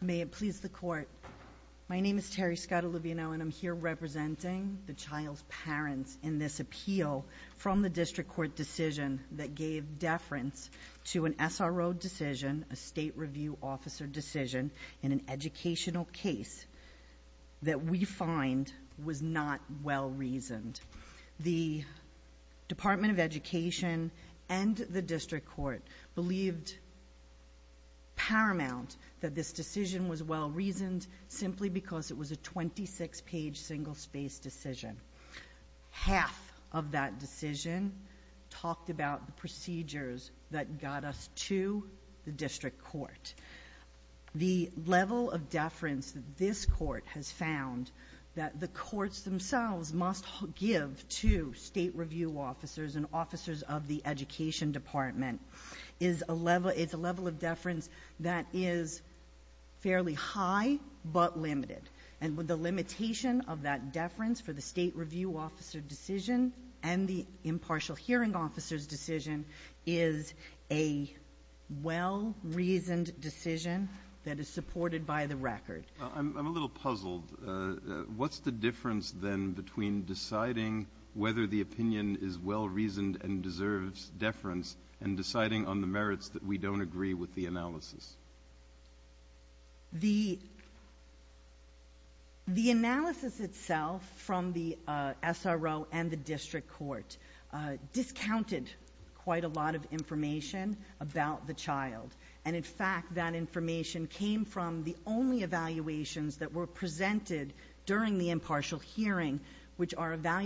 May it please the Court. My name is Terri Scott Olivino and I'm here representing the child's parents in this appeal from the District Court decision that gave deference to an SRO decision, a State Review Officer decision, in an educational case that we find was not well reasoned. The Department of this decision was well-reasoned simply because it was a 26-page single-space decision. Half of that decision talked about the procedures that got us to the District Court. The level of deference that this Court has found that the courts themselves must give to State Review Officers and officers of the high but limited. And with the limitation of that deference for the State Review Officer decision and the impartial hearing officer's decision is a well-reasoned decision that is supported by the record. I'm a little puzzled. What's the difference then between deciding whether the opinion is well-reasoned and deserves deference and deciding on the merits that we don't agree with the analysis? The analysis itself from the SRO and the District Court discounted quite a lot of information about the child and in fact that information came from the only evaluations that were presented during the impartial hearing which are The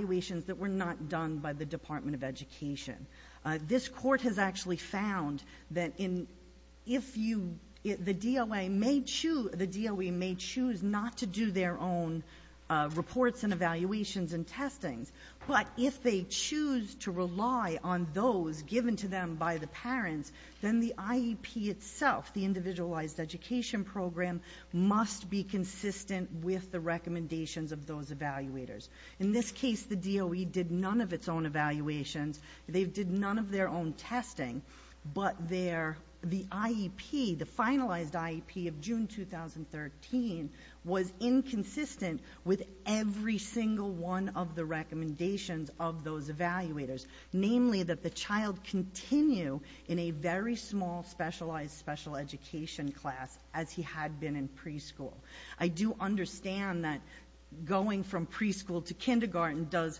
Court has actually found that if the DOE may choose not to do their own reports and evaluations and testings, but if they choose to rely on those given to them by the parents, then the IEP itself, the Individualized Education Program, must be consistent with the recommendations of those evaluators. In this case the DOE did none of its own evaluations. They did none of their own testing, but the IEP, the finalized IEP of June 2013, was inconsistent with every single one of the recommendations of those evaluators, namely that the child continue in a very small specialized special education class as he had been in preschool. I do understand that going from preschool to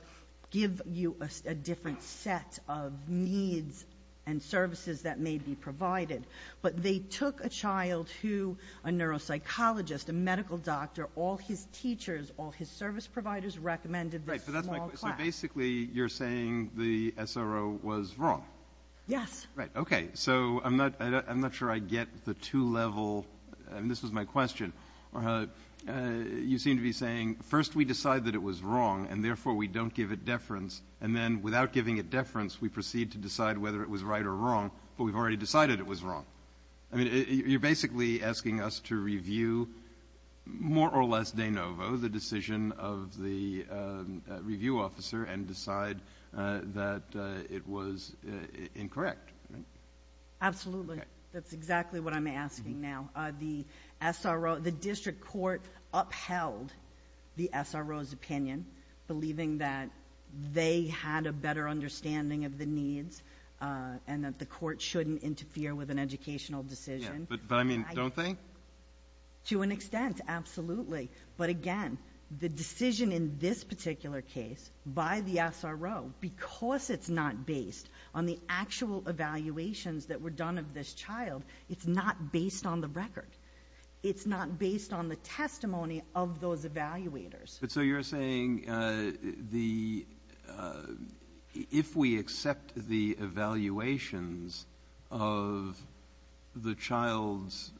and services that may be provided. But they took a child who a neuropsychologist, a medical doctor, all his teachers, all his service providers recommended this small class. So basically you're saying the SRO was wrong? Yes. Right. Okay. So I'm not sure I get the two-level, and this was my question, you seem to be saying first we decide that it was wrong and therefore we don't give it deference, and then without giving it deference we proceed to decide whether it was right or wrong, but we've already decided it was wrong. I mean, you're basically asking us to review more or less de novo the decision of the review officer and decide that it was incorrect, right? Absolutely. That's exactly what I'm asking now. The SRO, the district court upheld the SRO's opinion, believing that they had a better understanding of the case and that the court shouldn't interfere with an educational decision. But I mean, don't they? To an extent, absolutely. But again, the decision in this particular case by the SRO, because it's not based on the actual evaluations that were done of this child, it's not based on the record. It's not based on the testimony of those evaluators. But so you're saying the ‑‑ if we accept the evaluations of the child's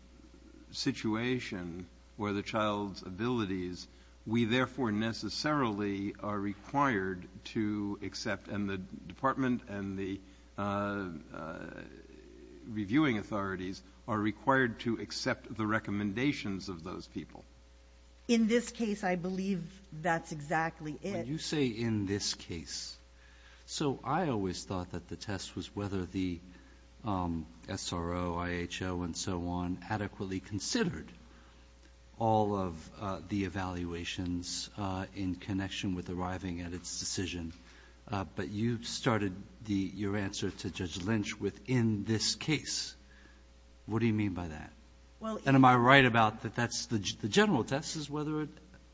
situation or the child's abilities, we therefore necessarily are required to accept ‑‑ and the department and the reviewing authorities are required to accept the recommendations of those people? In this case, I believe that's exactly it. You say in this case. So I always thought that the test was whether the SRO, IHO and so on adequately considered all of the evaluations in connection with arriving at its decision. But you started your answer to Judge Lynch with in this case. What do you mean by that? And am I right about that that's the general test is whether it ‑‑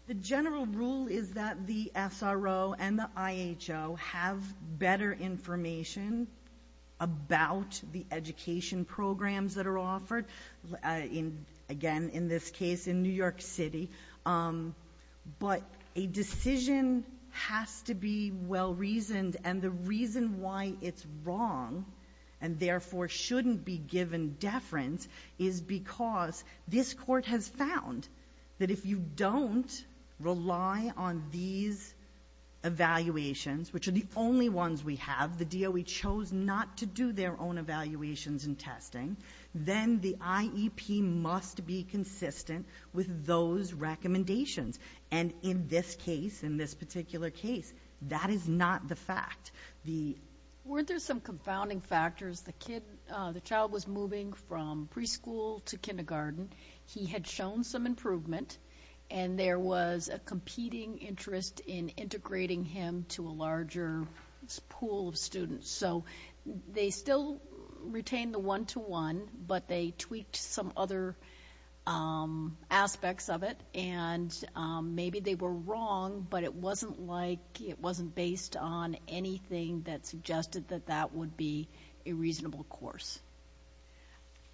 The general rule is that the SRO and the IHO have better information about the education programs that are offered. Again, in this case, in New York City. But a decision has to be well reasoned. And the reason why it's wrong and therefore shouldn't be given deference is because this court has found that if you don't rely on these evaluations, which are the only ones we have, the DOE chose not to do their own evaluations and testing, then the IEP must be consistent with those recommendations. And in this case, in this particular case, that is not the fact. Weren't there some confounding factors? The child was moving from preschool to kindergarten. He had shown some improvement. And there was a competing interest in integrating him to a larger pool of students. So they still retain the one‑to‑one, but they tweaked some other aspects of it. And maybe they were wrong, but it wasn't like ‑‑ it wasn't based on anything that suggested that that would be a reasonable course.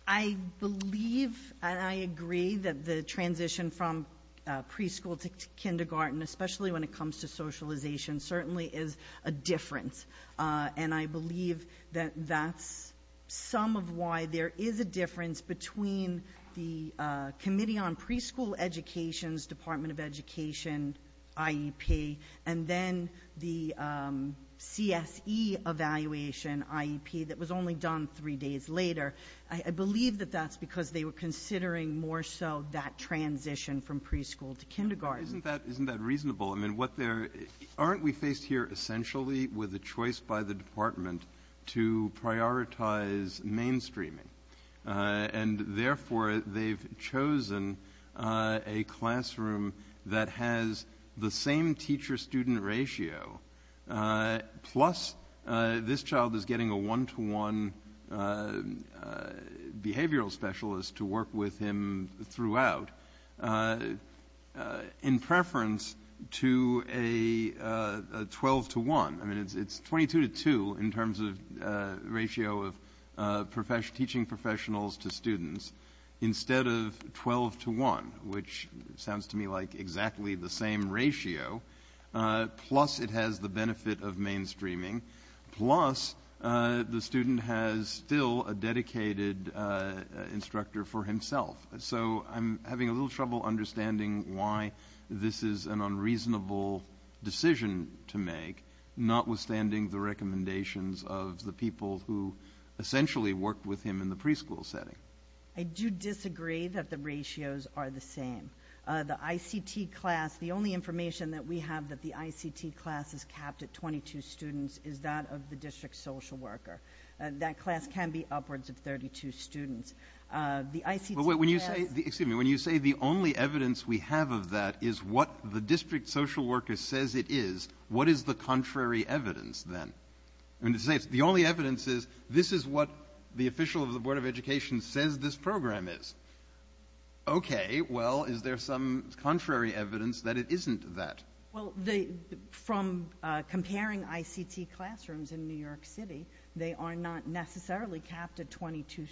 I believe and I agree that the transition from preschool to kindergarten, especially when it comes to socialization, certainly is a difference. And I believe that that's some of why there is a difference between the Committee on Evaluation IEP and then the CSE Evaluation IEP that was only done three days later. I believe that that's because they were considering more so that transition from preschool to kindergarten. Isn't that reasonable? I mean, what they're ‑‑ aren't we faced here essentially with a choice by the department to prioritize mainstreaming? And therefore, they've chosen a classroom that has the same teacher‑student ratio, plus this child is getting a one‑to‑one behavioral specialist to work with him throughout, in preference to a 12‑to‑1. I mean, it's 22‑to‑2 in terms of ratio of teaching professionals to students, instead of 12‑to‑1, which sounds to me like exactly the same ratio, plus it has the benefit of mainstreaming, plus the student has still a dedicated instructor for himself. So I'm having a little trouble understanding why this is an unreasonable decision to make, notwithstanding the recommendations of the people who essentially worked with him in the preschool setting. I do disagree that the ratios are the same. The ICT class, the only information that we have that the ICT class is capped at 22 students is that of the district social worker. That class can be upwards of 32 students. The ICT class ‑‑ When you say ‑‑ excuse me. When you say the only evidence we have of that is what the district social worker says it is, what is the contrary evidence then? The only evidence is, this is what the official of the Board of Education says this program is. Okay. Well, is there some contrary evidence that it isn't that? Well, from comparing ICT classrooms in New York City, they are not 12 to 1 to 1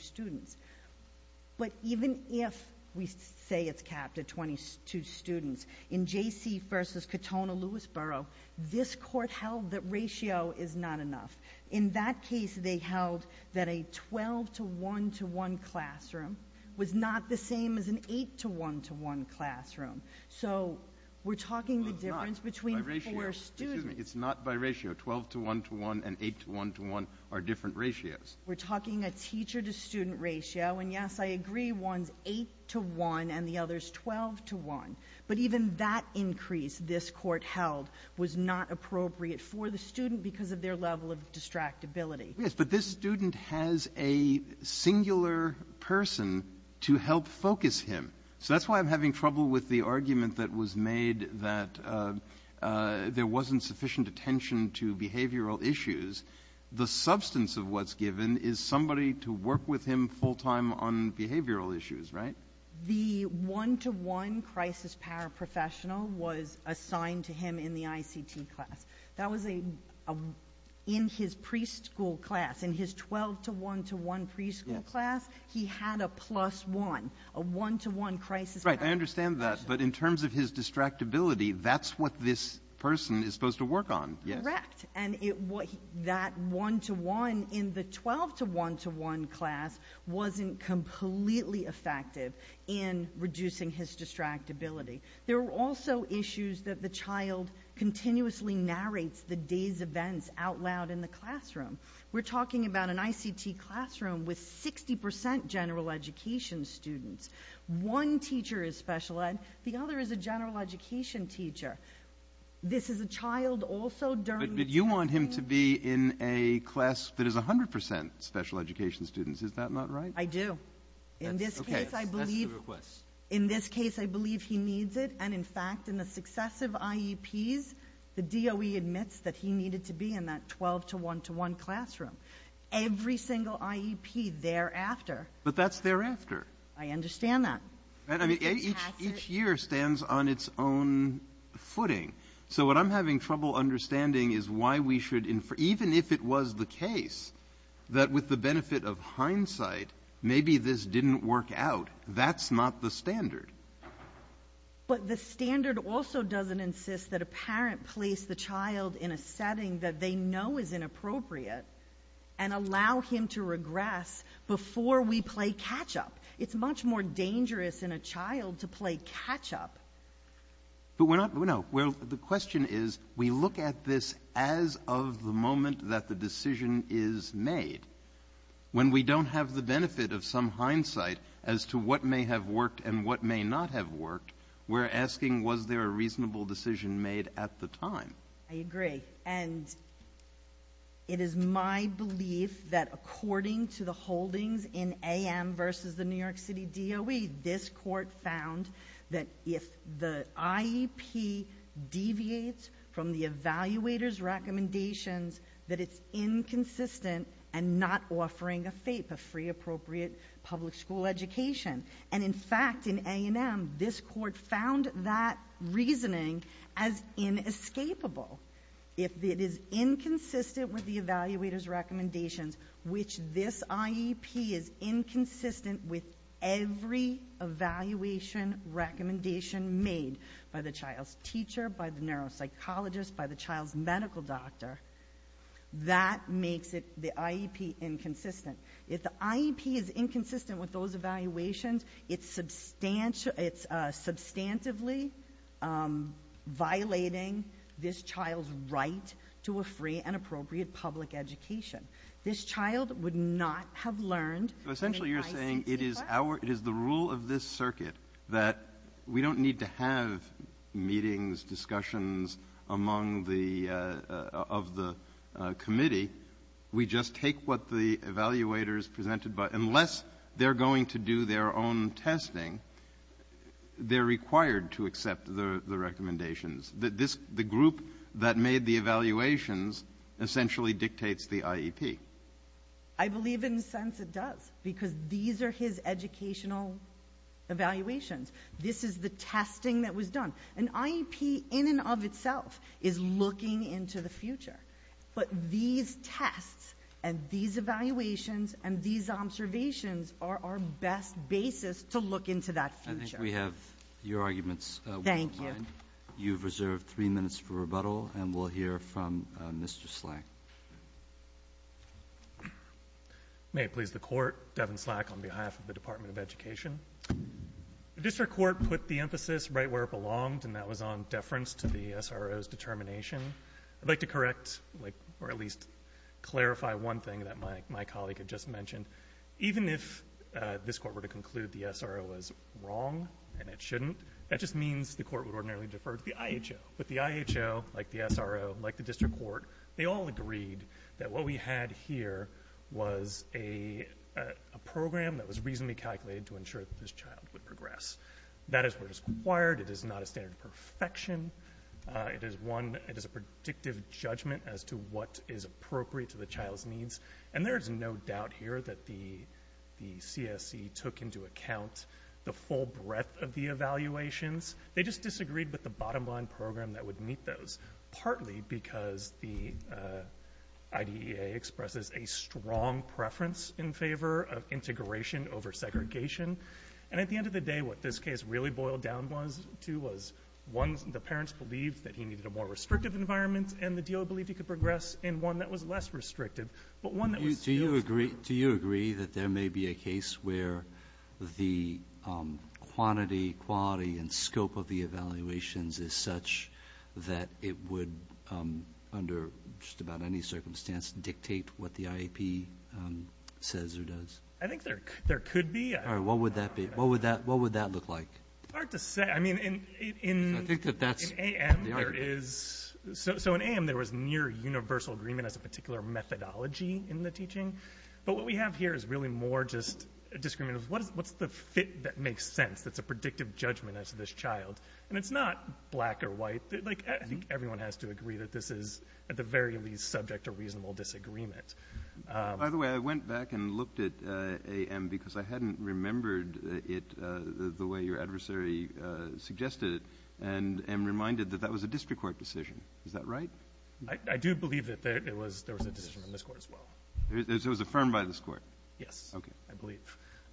classroom was not the same as an 8 to 1 to 1 classroom. So we're talking the difference between four students. Well, it's not by ratio. Excuse me. It's not by ratio. Twelve to 1 to 1 and eight to 1 to 1 are different ratios. We're talking a teacher to student ratio. And, yes, I agree one's 8 to 1 and the other's 12 to 1. But even that increase this Court held was not appropriate for the student because of their level of distractibility. Yes. But this student has a singular person to help focus him. So that's why I'm having trouble with the argument that was made that there wasn't sufficient attention to behavioral issues. The substance of what's given is somebody to work with him full time on behavioral issues, right? The 1 to 1 crisis paraprofessional was assigned to him in the ICT class. That was in his preschool class, in his 12 to 1 to 1 preschool class, he had a plus 1, a 1 to 1 crisis paraprofessional. Right. I understand that. But in terms of his distractibility, that's what this person is supposed to work on. Correct. And that 1 to 1 in the 12 to 1 to 1 class wasn't completely effective in reducing his distractibility. There were also issues that the child continuously narrates the day's events out loud in the classroom. We're talking about an ICT classroom with 60% general education students. One teacher is special ed. The other is a general education teacher. This is a child also during the day. But you want him to be in a class that is 100% special education students. Is that not right? I do. In this case, I believe he needs it. And in fact, in the successive IEPs, the DOE admits that he needed to be in that 12 to 1 to 1 classroom. Every single IEP thereafter. But that's thereafter. I understand that. Each year stands on its own footing. So what I'm having trouble understanding is why we should infer, even if it was the case, that with the benefit of hindsight, maybe this didn't work out. That's not the standard. But the standard also doesn't insist that a parent place the child in a setting that they know is inappropriate and allow him to regress before we play catch-up. It's much more dangerous in a child to play catch-up. But we're not, no, the question is, we look at this as of the moment that the decision is made. When we don't have the benefit of some hindsight as to what may have worked and what may not have worked, we're asking was there a reasonable decision made at the time? I agree. And it is my belief that according to the holdings in AM versus the New York City DOE, this court found that if the IEP deviates from the evaluator's recommendations, that it's inconsistent and not offering a FAPE, a free appropriate public school education. And in fact, in A&M, this court found that reasoning as inescapable. If it is inconsistent with the evaluator's recommendations, which this IEP is inconsistent with every evaluation recommendation made by the child's teacher, by the neuropsychologist, by the child's medical doctor, that makes the IEP inconsistent. If the IEP is inconsistent with those evaluations, it's substantively violating this child's right to a free and appropriate public school education. This child would not have learned in an ICC class. So essentially you're saying it is our — it is the rule of this circuit that we don't need to have meetings, discussions among the — of the committee. We just take what the evaluators presented, but unless they're going to do their own testing, they're required to accept the recommendations. This — the group that made the evaluations essentially dictates the IEP. I believe in a sense it does, because these are his educational evaluations. This is the testing that was done. An IEP in and of itself is looking into the future. But these tests and these evaluations and these observations are our best basis to look into that future. I think we have your arguments. Thank you. You've reserved three minutes for rebuttal, and we'll hear from Mr. Slack. May it please the Court, Devin Slack on behalf of the Department of Education. The District Court put the emphasis right where it belonged, and that was on deference to the SRO's determination. I'd like to correct, or at least clarify one thing that my colleague had just mentioned. Even if this Court were to conclude the SRO was wrong and it shouldn't, that just means the Court would ordinarily defer to the IHO. But the IHO, like the SRO, like the District Court, they all agreed that what we had here was a program that was reasonably calculated to ensure that this child would progress. That is where it is required. It is not a standard of perfection. It is one — it is a predictive judgment as to what is appropriate to the child's needs. And there is no doubt here that the CSE took into account the full breadth of the evaluations. They just disagreed with the bottom-line program that would meet those, partly because the IDEA expresses a strong preference in favor of integration over segregation. And at the end of the day, what this case really boiled down to was, one, the parents believed that he needed a more restrictive environment, and the DO believed he could progress in one that was less restrictive, but one that was still stronger. Do you agree that there may be a case where the quantity, quality, and scope of the evaluations is such that it would, under just about any circumstance, dictate what the IAP says or does? I think there could be. What would that be? What would that look like? It's hard to say. I mean, in — I think that that's —— in AM, there is — so in AM, there was near-universal agreement as a particular methodology in the teaching. But what we have here is really more just a disagreement of, what's the fit that makes sense that's a predictive judgment as to this child? And it's not black or white. Like, I think everyone has to agree that this is, at the very least, subject to reasonable disagreement. By the way, I went back and looked at AM because I hadn't remembered it the way your adversary suggested it, and am reminded that that was a district court decision. Is that right? I do believe that there was a decision in this court as well. It was affirmed by this court? Yes, I believe.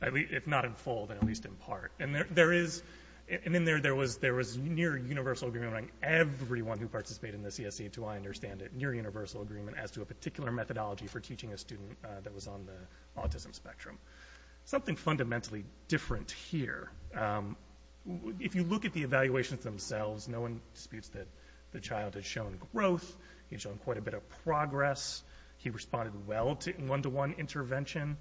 If not in full, then at least in part. And there is — and in there, there was near-universal agreement among everyone who participated in the CSE, to my understanding, near-universal agreement as to a particular methodology for teaching a student that was on the autism spectrum. Something fundamentally different here. If you look at the evaluations themselves, no one disputes that the child has shown growth. He's shown quite a bit of progress. He responded well to one-to-one intervention.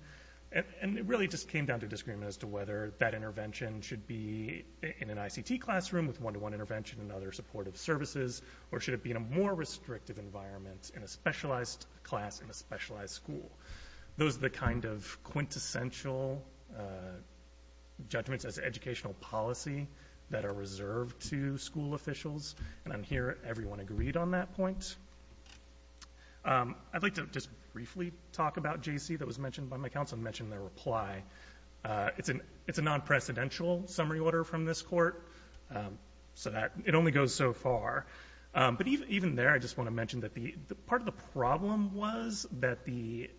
And it really just came down to a disagreement as to whether that intervention should be in an ICT classroom with one-to-one intervention and other supportive services, or should it be in a more restrictive environment in a specialized class in a specialized school. Those are the kind of quintessential judgments as educational policy that are reserved to school officials. And I'm hearing everyone agreed on that point. I'd like to just briefly talk about J.C. that was mentioned by my counsel, and mention their reply. It's a non-precedential summary order from this court, so that — it only goes so far. But even there, I just want to mention that the — part of the problem was that the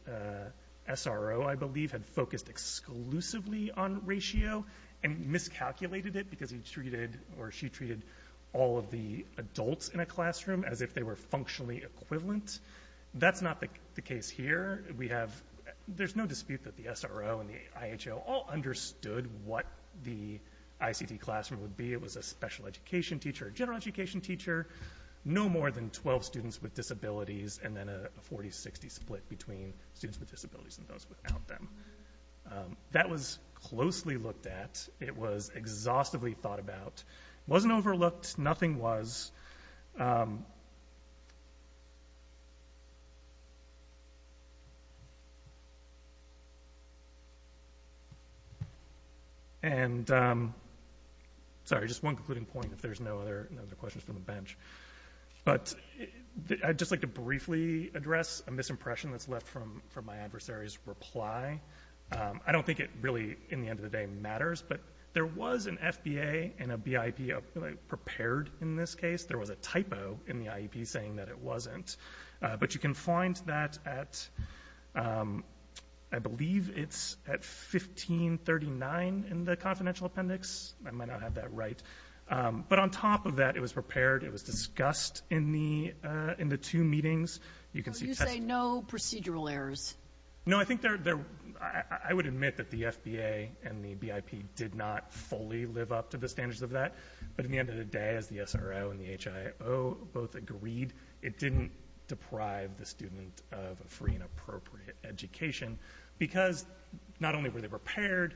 SRO, I believe, had focused exclusively on ratio, and miscalculated it because he treated, or she treated, all of the adults in a classroom as if they were functionally equivalent. That's not the case here. We have — there's no dispute that the SRO and the IHO all understood what the ICT classroom would be. It was a special education teacher, a general education teacher, no more than 12 students with disabilities, and then a 40-60 split between students with disabilities and those without them. That was closely looked at. It was exhaustively thought about. It wasn't overlooked. Nothing was. And — sorry, just one concluding point, if there's no other questions from the bench. But I'd just like to briefly address a misimpression that's left from my adversary's reply. I don't think it really, in the end of the day, matters, but there was an FBA and a BIP prepared in this case. There was a typo in the IEP saying that it wasn't. But you can find that at — I believe it's at 1539 in the confidential appendix. I might not have that right. But on top of that, it was prepared. It was discussed in the — in the two meetings. You can see — So you say no procedural errors? No. I think there — I would admit that the FBA and the BIP did not fully live up to the standards of that. But in the end of the day, as the SRO and the HIO both agreed, it didn't deprive the student of a free and appropriate education because not only were they prepared,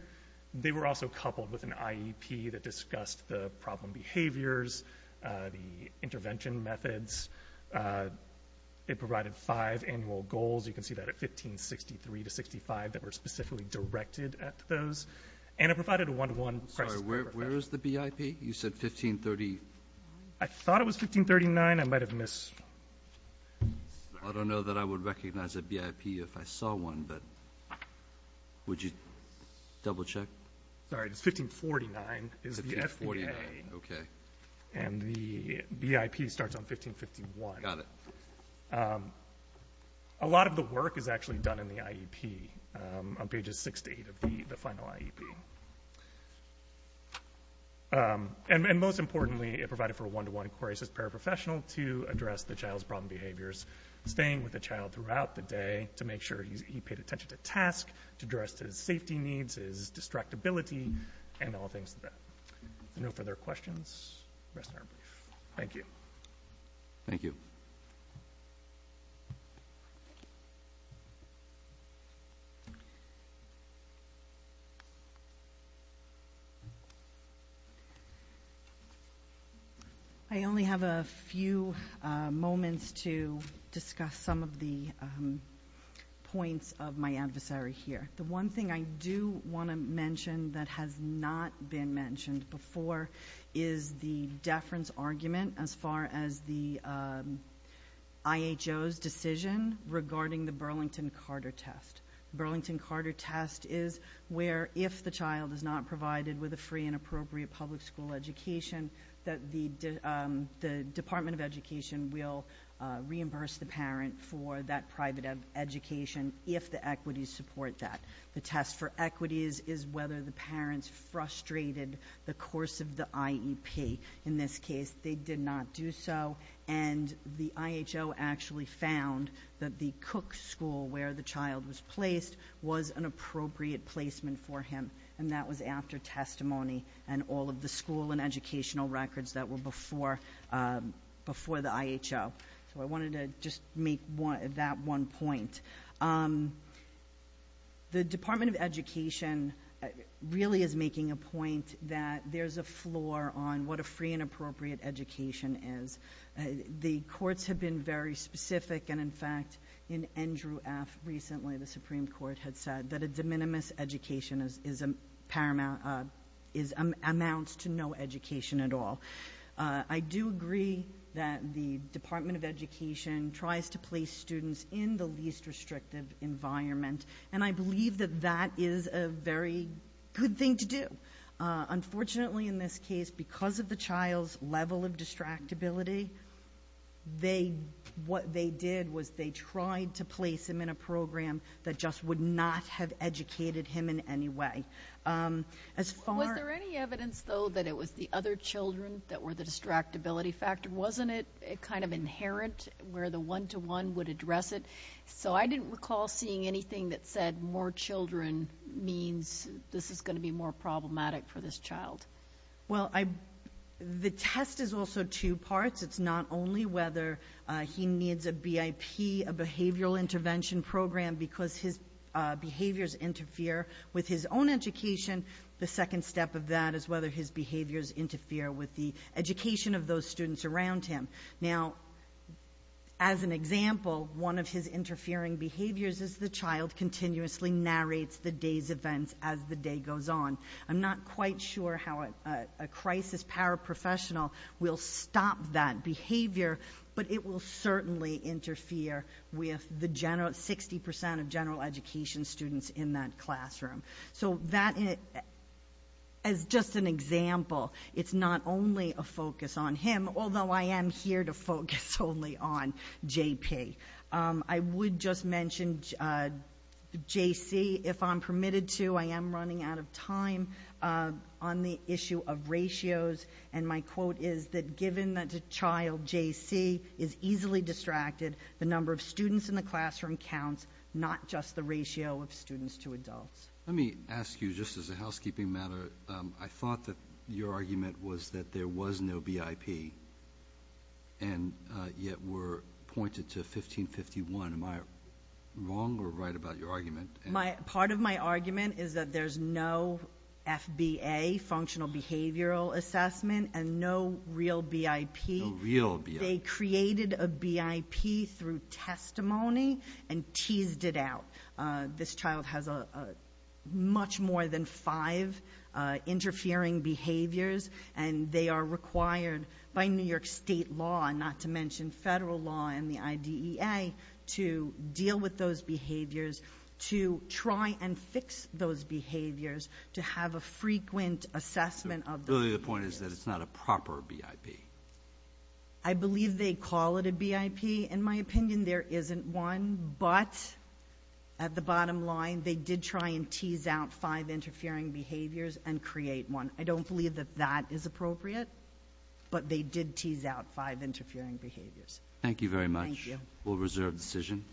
they were also coupled with an IEP that discussed the problem behaviors, the intervention methods. It provided five annual goals. You can see that at 1563 to 65 that were specifically directed at those. And it provided a one-to-one question. I'm sorry. Where is the BIP? You said 1539. I thought it was 1539. I might have missed — I don't know that I would recognize a BIP if I saw one. But would you double-check? Sorry. It's 1549 is the FBA. 1549. Okay. And the BIP starts on 1551. Got it. A lot of the work is actually done in the IEP on pages six to eight of the final IEP. And most importantly, it provided for a one-to-one query as a paraprofessional to address the staying with a child throughout the day to make sure he paid attention to task, to address his safety needs, his distractibility, and all things to that. No further questions? Rest of our brief. Thank you. Thank you. I only have a few moments to discuss some of the points of my adversary here. The one thing I do want to mention that has not been mentioned before is the deference argument as far as the IHO's decision regarding the Burlington-Carter test. Burlington-Carter test is where, if the child is not provided with a free and appropriate public school education, that the Department of Education will reimburse the parent for that private education if the equities support that. The test for equities is whether the parents frustrated the course of the IEP. In this case, they did not do so, and the IHO actually found that the Cook School where the child was placed was an appropriate placement for him. And that was after testimony and all of the school and educational records that were before the IHO. So I wanted to just make that one point. The Department of Education really is making a point that there's a floor on what a free and appropriate education is. The courts have been very specific, and in fact, in Andrew F. recently, the Supreme Court had said that a de minimis education amounts to no education at all. I do agree that the Department of Education tries to place students in the least restrictive environment, and I believe that that is a very good thing to do. Unfortunately, in this case, because of the child's level of distractibility, what they did was they tried to place him in a program that just would not have educated him in any way. Was there any evidence, though, that it was the other children that were the distractibility factor? Wasn't it kind of inherent where the one-to-one would address it? So I didn't recall seeing anything that said more children means this is going to be more problematic for this child. Well, the test is also two parts. It's not only whether he needs a BIP, a behavioral intervention program, because his behaviors interfere with his own education. The second step of that is whether his behaviors affect the students around him. Now, as an example, one of his interfering behaviors is the child continuously narrates the day's events as the day goes on. I'm not quite sure how a crisis paraprofessional will stop that behavior, but it will certainly interfere with the 60 percent of general education students in that classroom. So that, as just an example, it's not only a focus on him, although I am here to focus only on JP. I would just mention JC, if I'm permitted to. I am running out of time on the issue of ratios, and my quote is that given that a child, JC, is easily distracted, the number of students in the classroom counts, not just the ratio of students to adults. Let me ask you, just as a housekeeping matter, I thought that your argument was that there was no BIP, and yet we're pointed to 1551. Am I wrong or right about your argument? Part of my argument is that there's no FBA, Functional Behavioral Assessment, and no real BIP. No real BIP. I raised it out. This child has much more than five interfering behaviors, and they are required, by New York State law, and not to mention federal law and the IDEA, to deal with those behaviors, to try and fix those behaviors, to have a frequent assessment of those behaviors. Really the point is that it's not a proper BIP. At the bottom line, they did try and tease out five interfering behaviors and create one. I don't believe that that is appropriate, but they did tease out five interfering behaviors. Thank you very much. We'll reserve the decision.